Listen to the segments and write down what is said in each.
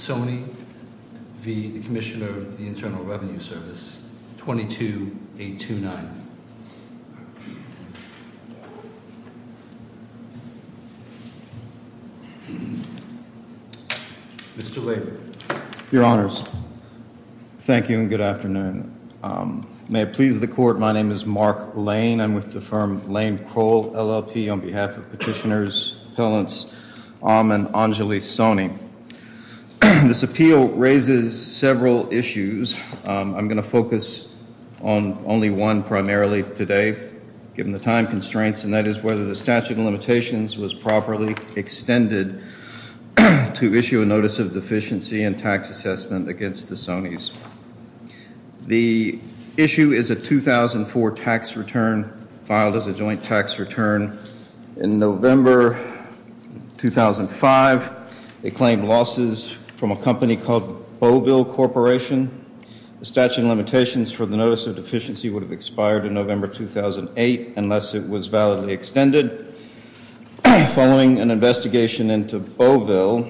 Service, 22829. Mr. Laidman. Your Honors. Thank you and good afternoon. May it please the court. My name is Mark Lane. I'm with the firm Lane Kroll LLP on behalf of petitioners, appellants, Ahman Anjali Soni. This appeal raises several issues. I'm going to focus on only one primarily today, given the time constraints, and that is whether the statute of limitations was properly extended to issue a notice of deficiency and tax assessment against the Sonis. The issue is a 2004 tax return filed as a joint tax return in November 2005. It claimed losses from a company called Beauville Corporation. The statute of limitations for the notice of deficiency would have expired in November 2008 unless it was validly extended. Following an investigation into Beauville,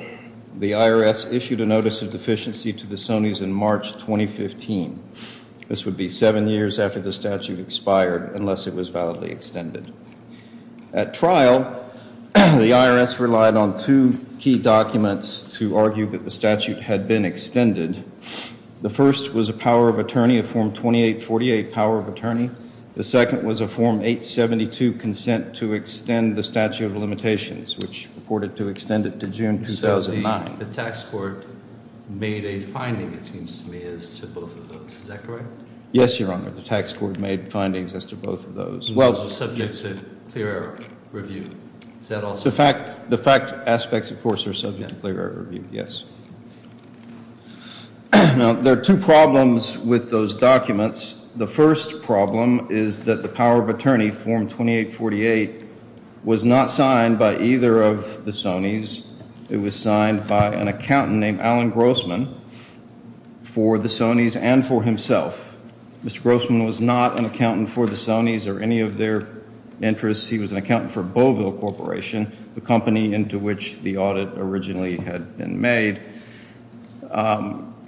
the IRS issued a notice of deficiency to the Sonis in March 2015. This would be seven years after the statute expired unless it was validly extended. At trial, the IRS relied on two key documents to argue that the statute had been extended. The first was a power of attorney, a Form 2848 power of attorney. The second was a Form 872 consent to extend the statute of limitations, which purported to extend it to June 2009. So the tax court made a finding, it seems to me, as to both of those. Is that correct? Yes, Your Honor. The tax court made findings as to both of those. Subject to clear air review. Is that also correct? The fact aspects, of course, are subject to clear air review, yes. Now, there are two problems with those documents. The first problem is that the power of attorney, Form 2848, was not signed by either of the Sonis. It was signed by an accountant named Alan Grossman for the Sonis and for himself. Mr. Grossman was not an accountant for the Sonis or any of their interests. He was an accountant for Beauville Corporation, the company into which the audit originally had been made.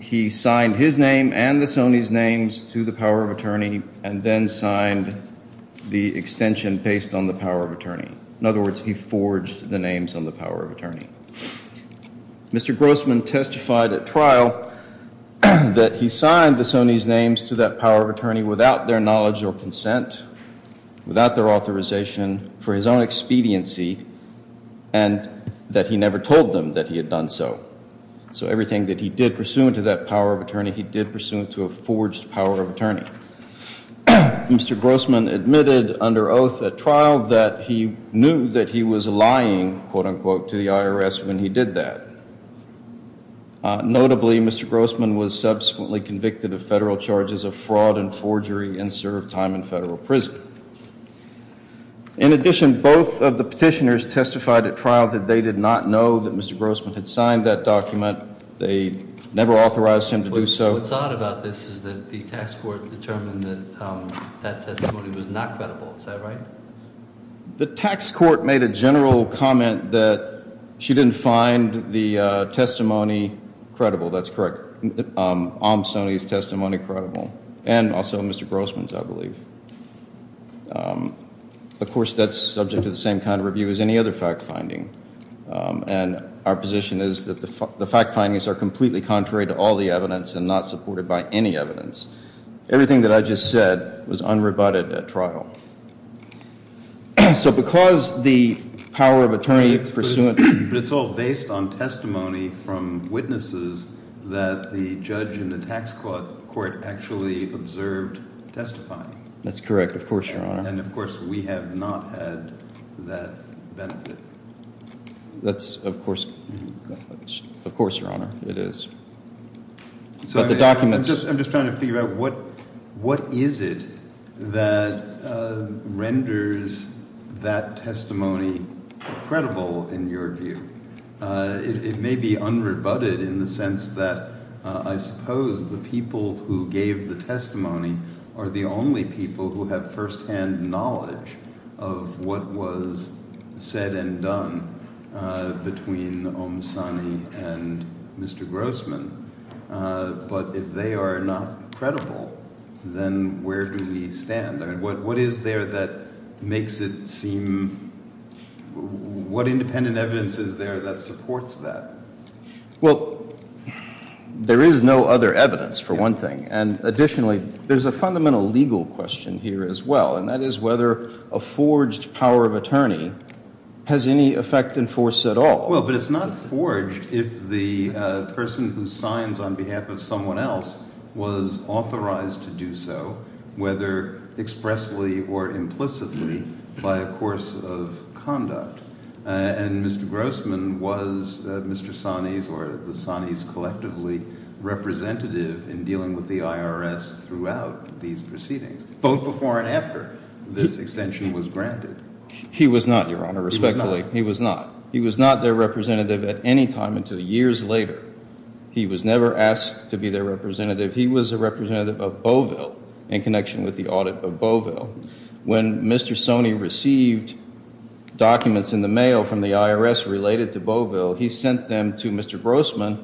He signed his name and the Sonis' names to the power of attorney and then signed the extension based on the power of attorney. In other words, he forged the names on the power of attorney. Mr. Grossman testified at trial that he signed the Sonis' names to that power of attorney without their knowledge or consent, without their expediency, and that he never told them that he had done so. So everything that he did pursuant to that power of attorney, he did pursuant to a forged power of attorney. Mr. Grossman admitted under oath at trial that he knew that he was lying, quote unquote, to the IRS when he did that. Notably, Mr. Grossman was subsequently convicted of federal charges of fraud and forgery and served time in federal prison. In addition, both of the petitioners testified at trial that they did not know that Mr. Grossman had signed that document. They never authorized him to do so. What's odd about this is that the tax court determined that that testimony was not credible. Is that right? The tax court made a general comment that she didn't find the testimony credible. And also Mr. Grossman's, I believe. Of course, that's subject to the same kind of review as any other fact finding. And our position is that the fact findings are completely contrary to all the evidence and not supported by any evidence. Everything that I just said was unrebutted at trial. So because the power of attorney pursuant... The court actually observed testifying. That's correct. Of course, Your Honor. And of course, we have not had that benefit. That's, of course, of course, Your Honor. It is. I'm just trying to figure out what is it that renders that testimony credible in your view? It may be unrebutted in the sense that I suppose the people who gave the testimony are the only people who have firsthand knowledge of what was said and done between Omsani and Mr. Grossman. But if they are not credible, then where do we stand? What is there that makes it seem... What independent evidence is there that supports that? Well, there is no other evidence, for one thing. And additionally, there's a fundamental legal question here as well, and that is whether a forged power of attorney has any effect in force at all. Well, but it's not forged if the person who signs on behalf of someone else was authorized to do so, whether expressly or implicitly by a course of conduct. And Mr. Grossman was Mr. Sani's or the Sani's collectively representative in dealing with the IRS throughout these proceedings, both before and after this extension was granted. He was not, Your Honor, respectfully. He was not. He was not their representative at any time until years later. He was never asked to be their representative. He was a representative of Bovell in connection with the audit of Bovell. When Mr. Sani received documents in the mail from the IRS related to Bovell, he sent them to Mr. Grossman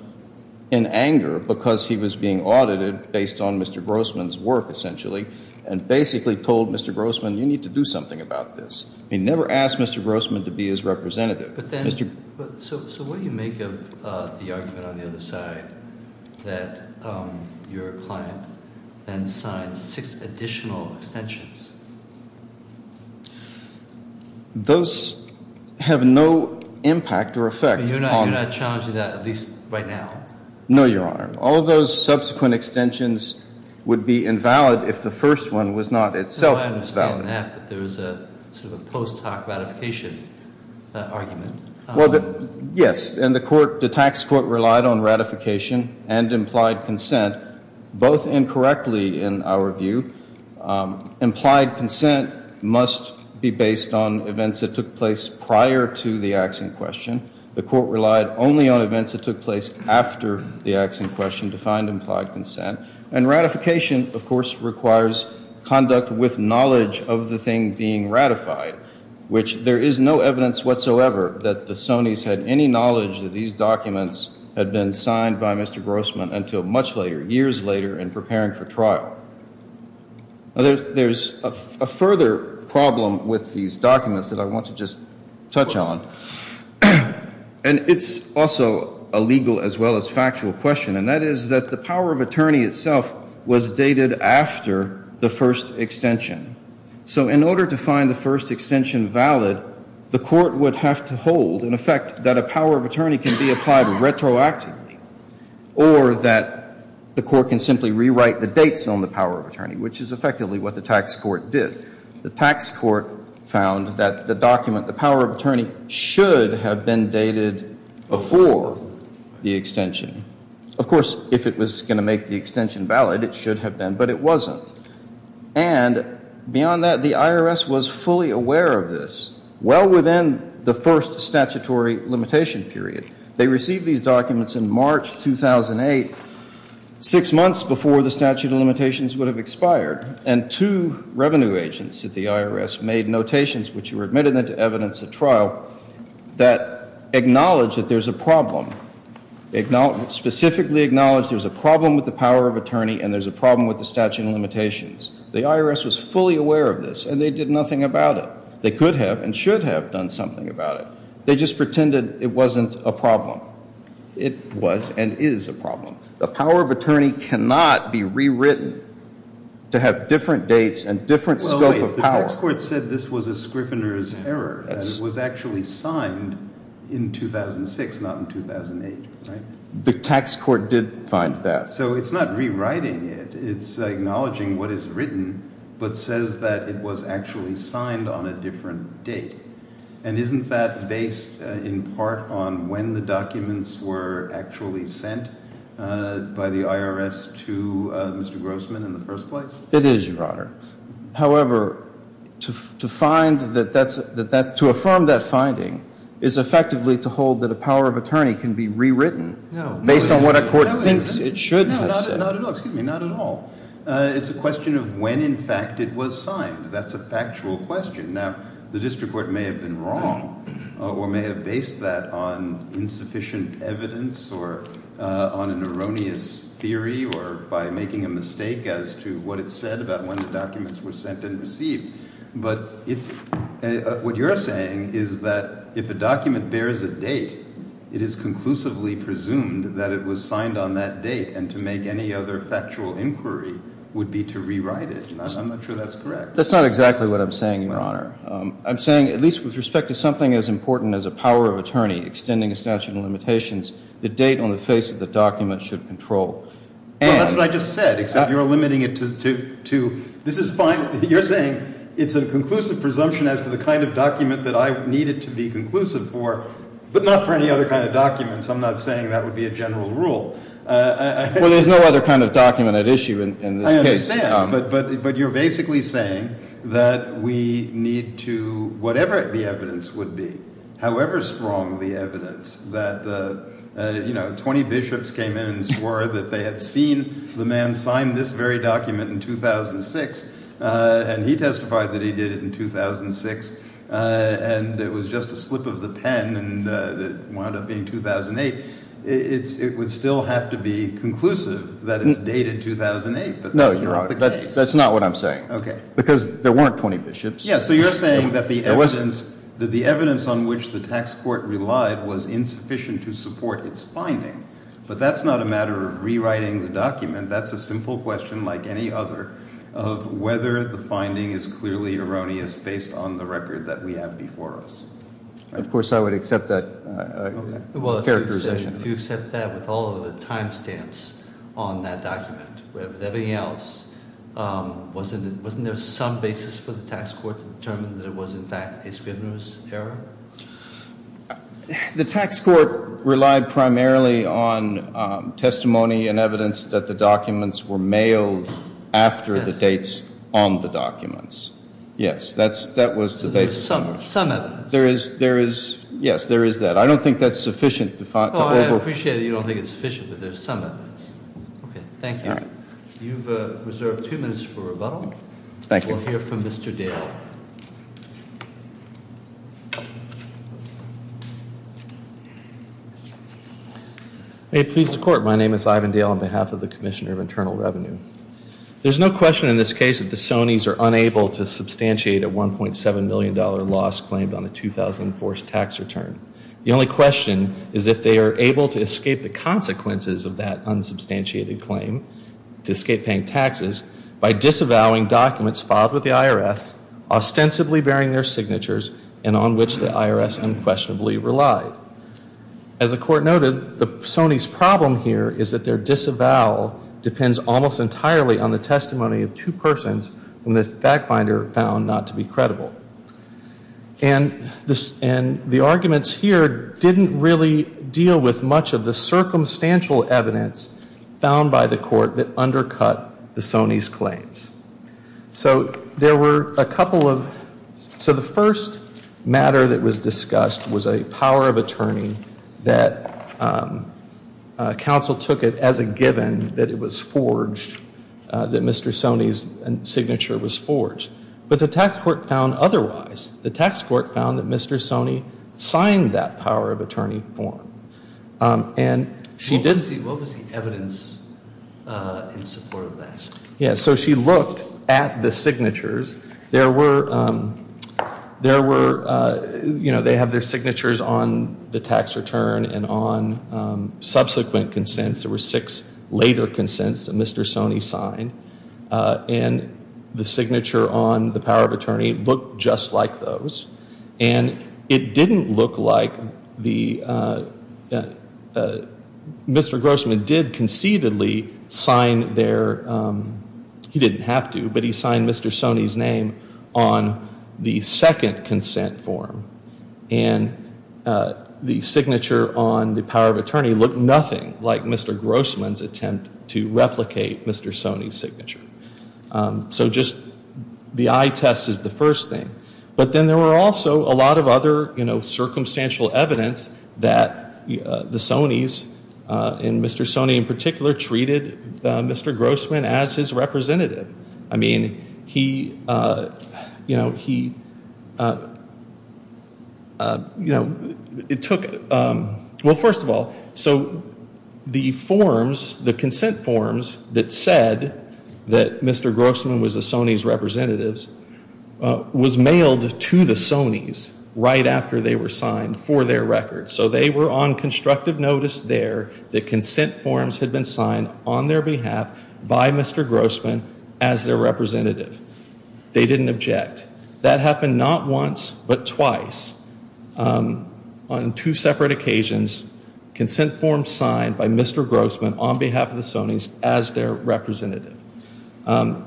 in anger because he was being audited based on Mr. Grossman's work, essentially, and basically told Mr. Grossman, you need to do something about this. He never asked Mr. Grossman to be his representative. But then, so what do you make of the argument on the other side that your client then signs six additional extensions? Those have no impact or effect. But you're not challenging that at least right now? No, Your Honor. All those subsequent extensions would be invalid if the first one was not itself valid. I understand that, but there is a sort of a post hoc ratification argument. Yes. And the tax court relied on ratification and implied consent, both incorrectly in our view. Implied consent must be based on events that took place prior to the axiom question. The court relied only on events that took place after the axiom question to find implied consent. And ratification, of course, requires conduct with knowledge of the thing being ratified, which there is no evidence whatsoever that the Sonys had any knowledge that these documents had been signed by Mr. Grossman until much later, years later in preparing for trial. There's a further problem with these documents that I want to just touch on. And it's also a legal as well as factual question, and that is that the power of attorney itself was dated after the first extension. So in order to find the first extension valid, the court would have to hold, in effect, that a power of attorney can be applied retroactively or that the court can simply rewrite the dates on the power of attorney, which is effectively what the tax court did. The tax court found that the document, the power of attorney, should have been dated before the extension. Of course, if it was going to make the extension valid, it should have been, but it wasn't. And beyond that, the IRS was fully aware of this, well within the first statutory limitation period. They received these documents in March 2008, six months before the statute of limitations would have expired, and two revenue agents at the IRS made notations which were admitted into evidence at trial that acknowledged that there's a problem. Specifically acknowledged there's a problem with the power of attorney and there's a problem with the statute of limitations. The IRS was fully aware of this, and they did nothing about it. They could have and should have done something about it. They just pretended it wasn't a problem. It was and is a to have different dates and different scope of power. The tax court said this was a scrivener's error. It was actually signed in 2006, not in 2008. The tax court did find that. So it's not rewriting it. It's acknowledging what is written, but says that it was actually signed on a different date. And isn't that based in part on when the documents were actually sent by the IRS to Mr. Grossman in the first place? It is, Your Honor. However, to find that, to affirm that finding is effectively to hold that a power of attorney can be rewritten based on what a court thinks it should have said. Not at all. It's a question of when in fact it was signed. That's a sufficient evidence on an erroneous theory or by making a mistake as to what it said about when the documents were sent and received. But what you're saying is that if a document bears a date, it is conclusively presumed that it was signed on that date. And to make any other factual inquiry would be to rewrite it. I'm not sure that's correct. That's not exactly what I'm saying, Your Honor. I'm saying at least with respect to something as important as a power of attorney, extending a statute of limitations, the date on the face of the document should control. Well, that's what I just said, except you're limiting it to, this is fine. You're saying it's a conclusive presumption as to the kind of document that I would need it to be conclusive for, but not for any other kind of documents. I'm not saying that would be a general rule. Well, there's no other kind of document at issue in this case. I understand, but you're basically saying that we need to, whatever the evidence would be, however strong the evidence, that 20 bishops came in and swore that they had seen the man sign this very document in 2006, and he testified that he did it in 2006, and it was just a slip of the pen, and it wound up being 2008. It would still have to be conclusive that it's dated 2008, but that's not the case. That's not what I'm saying. Because there weren't 20 bishops. Yeah, so you're saying that the evidence on which the tax court relied was insufficient to support its finding. But that's not a matter of rewriting the document. That's a simple question, like any other, of whether the finding is clearly erroneous based on the record that we have before us. Of course, I would accept that characterization. If you accept that with all of the time stamps on that document, with everything else, wasn't there some basis for the tax court to determine that it was, in fact, a Scrivener's error? The tax court relied primarily on testimony and evidence that the documents were mailed after the dates on the documents. Yes, that was the basis. Some evidence. Yes, there is that. I don't think that's sufficient. I appreciate that you don't think it's sufficient, but there's some evidence. Thank you. You've reserved two minutes for rebuttal. We'll hear from Mr. Dale. May it please the court, my name is Ivan Dale on behalf of the Commissioner of Internal Revenue. There's no question in this case that the Sonys are unable to substantiate a $1.7 million loss claimed on a tax return. The only question is if they are able to escape the consequences of that unsubstantiated claim to escape paying taxes by disavowing documents filed with the IRS, ostensibly bearing their signatures and on which the IRS unquestionably relied. As the court noted, the Sonys' problem here is that their disavowal depends almost entirely on the testimony of two persons when the fact finder found not to be credible. And the arguments here didn't really deal with much of the circumstantial evidence found by the court that undercut the Sonys' claims. So there were a couple of, so the first matter that was discussed was a power of attorney that counsel took it as a given that it was forged, that Mr. Sonys' signature was forged. But the tax court found otherwise. The tax court found that Mr. Sonys signed that power of attorney form. What was the evidence in support of that? Yeah, so she looked at the signatures. There were, they have their signatures on the tax return and on subsequent consents. There were six later consents that Mr. Sonys signed. And the signature on the power of attorney looked just like those. And it didn't look like Mr. Grossman did conceitedly sign their, he didn't have to, but he signed Mr. Sonys' name on the second consent form. And the signature on the power of attorney looked nothing like Mr. Grossman's attempt to replicate Mr. Sonys' signature. So just the eye test is the first thing. But then there were also a lot of other circumstantial evidence that the Sonys, and Mr. Sonys in particular, treated Mr. Grossman as his representative. I mean, he, you know, it took, well, first of all, so the forms, the consent forms that said that Mr. Grossman was the Sonys' representatives was mailed to the Sonys right after they were signed for their record. So they were on constructive notice there that consent forms had been signed on their behalf by Mr. Grossman as their representative. They didn't object. That happened not once, but twice on two separate occasions. Consent forms signed by Mr. Grossman on behalf of the Sonys as their representative. Mr.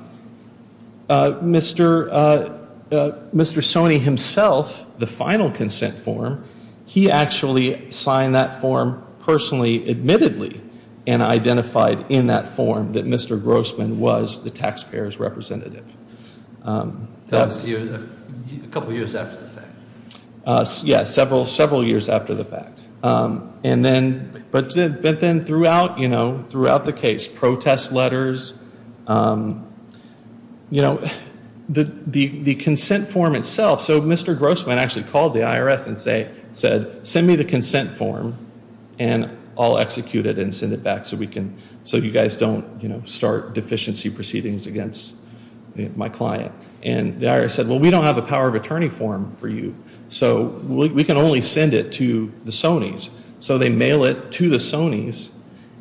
Sonys himself, the final consent form, he actually signed that form personally, admittedly, and identified in that form that Mr. Grossman was the taxpayer's representative. A couple of years after the fact. Yes, several years after the fact. But then throughout the case, protest letters, the consent form itself, so Mr. Grossman actually called the IRS and said, send me the consent form and I'll execute it and send it back so you guys don't start deficiency proceedings against my client. And the IRS said, well, we don't have a power of attorney form for you. So we can only send it to the Sonys. So they mail it to the Sonys.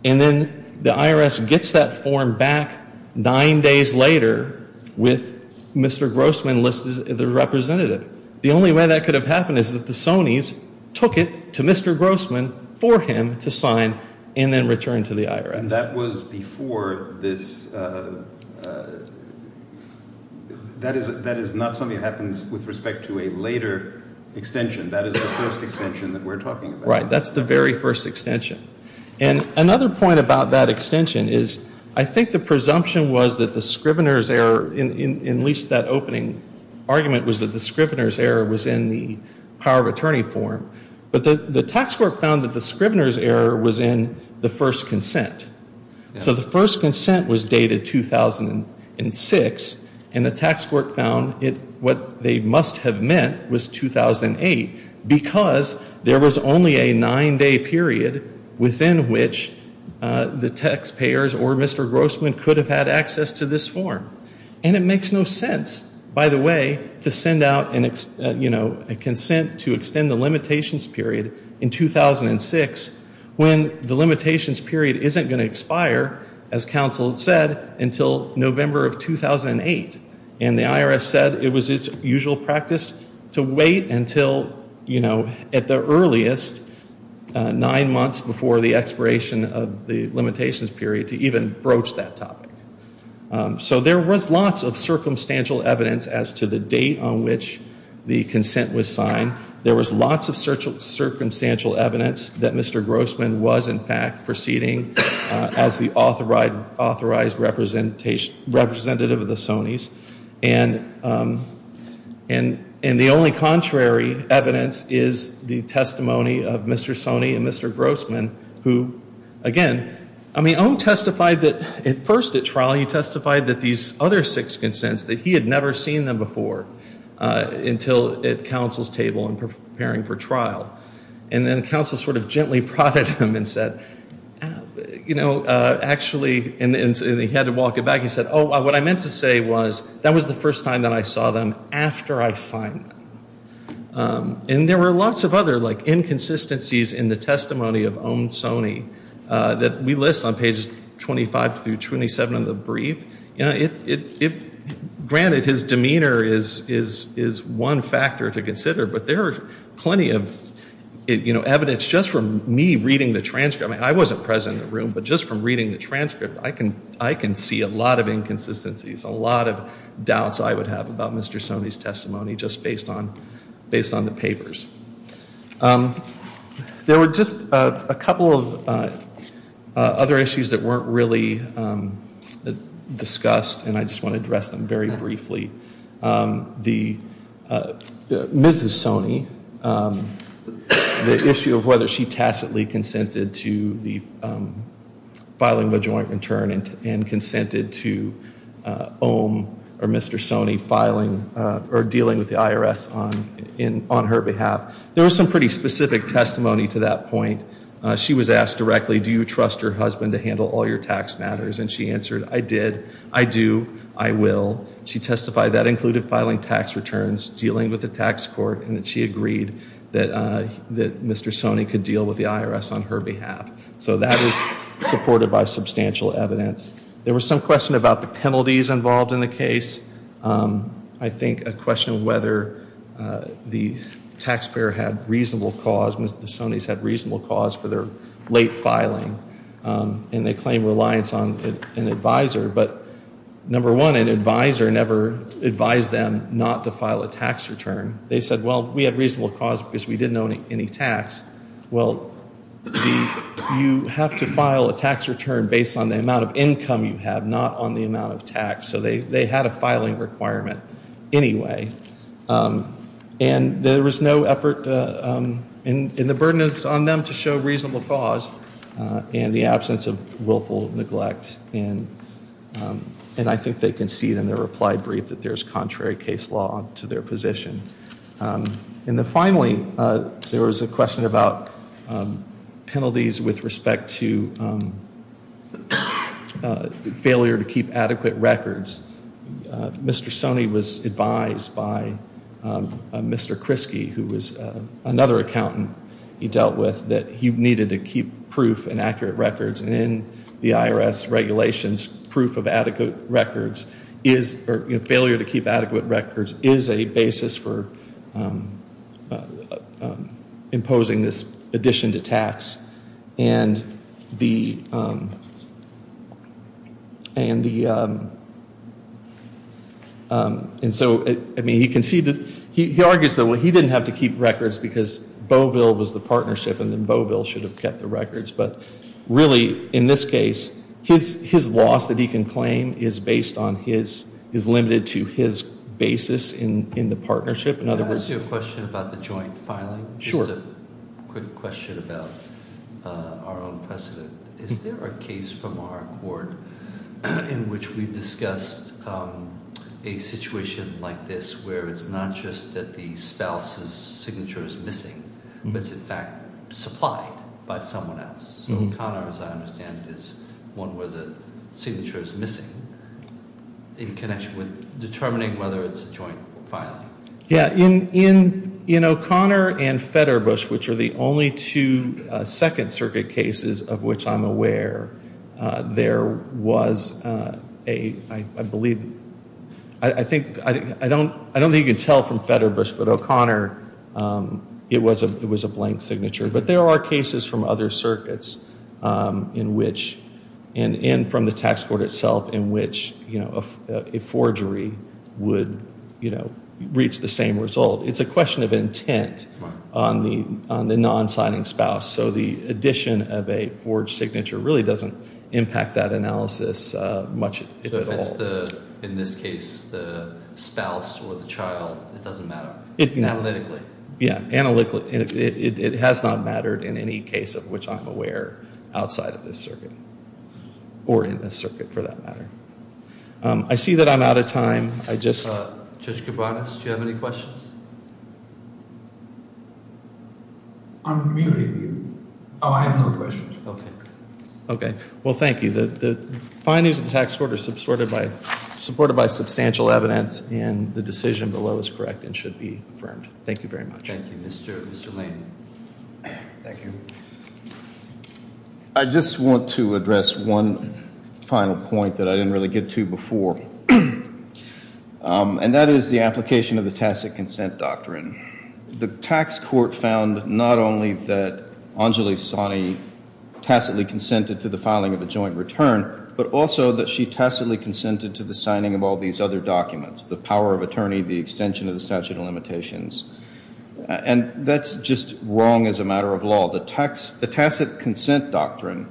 And then the IRS gets that form back nine days later with Mr. Grossman listed as the representative. The only way that could have happened is if the Sonys took it to Mr. Grossman for him to sign and then return to the IRS. That was before this. That is not something that happens with respect to a later extension. That is the first extension that we're talking about. Right. That's the very first extension. And another point about that extension is I think the presumption was that the Scrivener's error in at least that opening argument was that the Scrivener's error was in the power of attorney form. But the tax court found that the Scrivener's error was in the first consent. So the first consent was dated 2006 and the tax court found what they must have meant was 2008 because there was only a nine day period within which the taxpayers or Mr. Grossman could have had access to this form. And it makes no sense, by the way, to send out a consent to extend the limitations period in 2006 when the limitations period isn't going to expire, as counsel said, until November of 2008. And the IRS said it was its usual practice to wait until at the earliest, nine months before the expiration of the limitations period, to even broach that topic. So there was lots of circumstantial evidence as to the date on which the consent was signed. There was lots of circumstantial evidence that Mr. Grossman was, in fact, proceeding as the authorized representative of the Sonys. And the only contrary evidence is the testimony of Mr. Sony and Mr. Grossman who, again, I mean, Ohm testified that at first at trial he testified that these other six consents, that he had never seen them before until at counsel's table and preparing for trial. And then counsel sort of gently prodded him and said, you know, actually, and he had to walk it back, he said, oh, what I meant to say was that was the first time that I saw them after I signed them. And there were lots of other like inconsistencies in the testimony of Ohm Sony that we list on pages 25 through 27 of the brief. Granted, his demeanor is one factor to consider, but there are plenty of evidence just from me reading the transcript. I mean, I wasn't present in the room, but just from reading the transcript, I can see a lot of inconsistencies, a lot of doubts I would have about Mr. Sony's testimony just based on the papers. There were just a couple of other issues that weren't really discussed and I just want to address them very briefly. The Mrs. Sony, the issue of whether she tacitly consented to the filing of a joint return and consented to Ohm or Mr. Sony filing or dealing with the IRS on her behalf. There was some pretty specific testimony to that point. She was asked directly, do you trust your husband to handle all your tax matters? And she answered, I did. I do. I will. She testified that included filing tax returns, dealing with the tax court, and that she agreed that Mr. Sony could deal with the IRS on her behalf. So that is supported by substantial evidence. There was some question about the penalties involved in the case. I think a question of whether the taxpayer had reasonable cause, Mr. Sony's had reasonable cause for their late filing and they claim reliance on an advisor. But number one, an advisor never advised them not to file a tax return. They said, well, we had reasonable cause because we didn't owe any tax. Well, you have to file a tax return based on the amount of income you have, not on the amount of tax. So they had a filing requirement anyway. And there was no effort, and the burden is on them to show reasonable cause and the absence of willful neglect. And I think they concede in their reply brief that there is contrary case law to their position. And then finally, there was a question about penalties with respect to failure to keep adequate records. Mr. Sony was advised by Mr. Kresge, who was another accountant he dealt with, that he needed to keep proof and accurate records. And in the IRS regulations, proof of adequate records is, or failure to keep adequate records is a basis for imposing this addition to tax. And the and so, I mean, he conceded, he argues that he didn't have to keep records because Beauville was the partnership and then Beauville should have kept the records. But really in this case, his loss that he can claim is based on his, is limited to his about our own precedent. Is there a case from our court in which we've discussed a situation like this where it's not just that the spouse's signature is missing, but it's in fact supplied by someone else? So O'Connor, as I understand it, is one where the signature is missing in connection with determining whether it's a joint filing? Yeah. In O'Connor and Federbusch, which are the only two second circuit cases of which I'm aware, there was a I believe, I think, I don't think you can tell from Federbusch, but O'Connor it was a blank signature. But there are cases from other circuits in which And from the tax court itself in which a forgery would reach the same result. It's a question of intent on the non-signing spouse. So the addition of a forged signature really doesn't impact that analysis much at all. In this case, the spouse or the child, it doesn't matter analytically? Yeah, analytically. It has not mattered in any case of which I'm aware outside of this circuit. Or in this circuit, for that matter. I see that I'm out of time. Judge Kibanis, do you have any questions? Oh, I have no questions. Okay. Well, thank you. The findings of the tax court are supported by substantial evidence and the decision below is correct and should be affirmed. Thank you very much. Thank you, Mr. Lane. I just want to address one final point that I didn't really get to before. And that is the application of the tacit consent doctrine. The tax court found not only that consented to the signing of all these other documents, the power of attorney, the extension of the statute of limitations. And that's just wrong as a matter of law. The tacit consent doctrine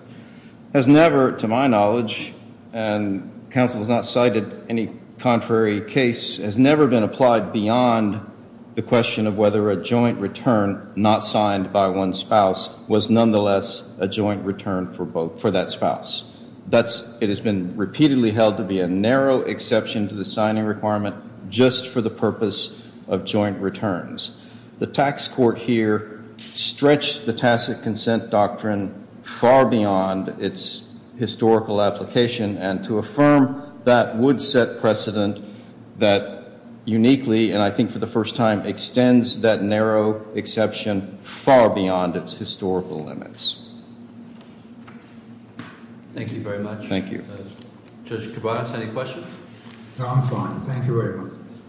has never, to my knowledge, and counsel has not cited any contrary case, has never been applied beyond the question of whether a joint return not signed by one spouse was nonetheless a joint return for that spouse. It has been repeatedly held to be a narrow exception to the signing requirement just for the purpose of joint returns. The tax court here stretched the tacit consent doctrine far beyond its historical application. And to affirm that would set precedent that uniquely, and I think for the first time, extends that narrow exception far beyond its historical limits. Thank you very much. Thank you. Judge Kovats, any questions? No, I'm fine. Thank you very much. Thank you.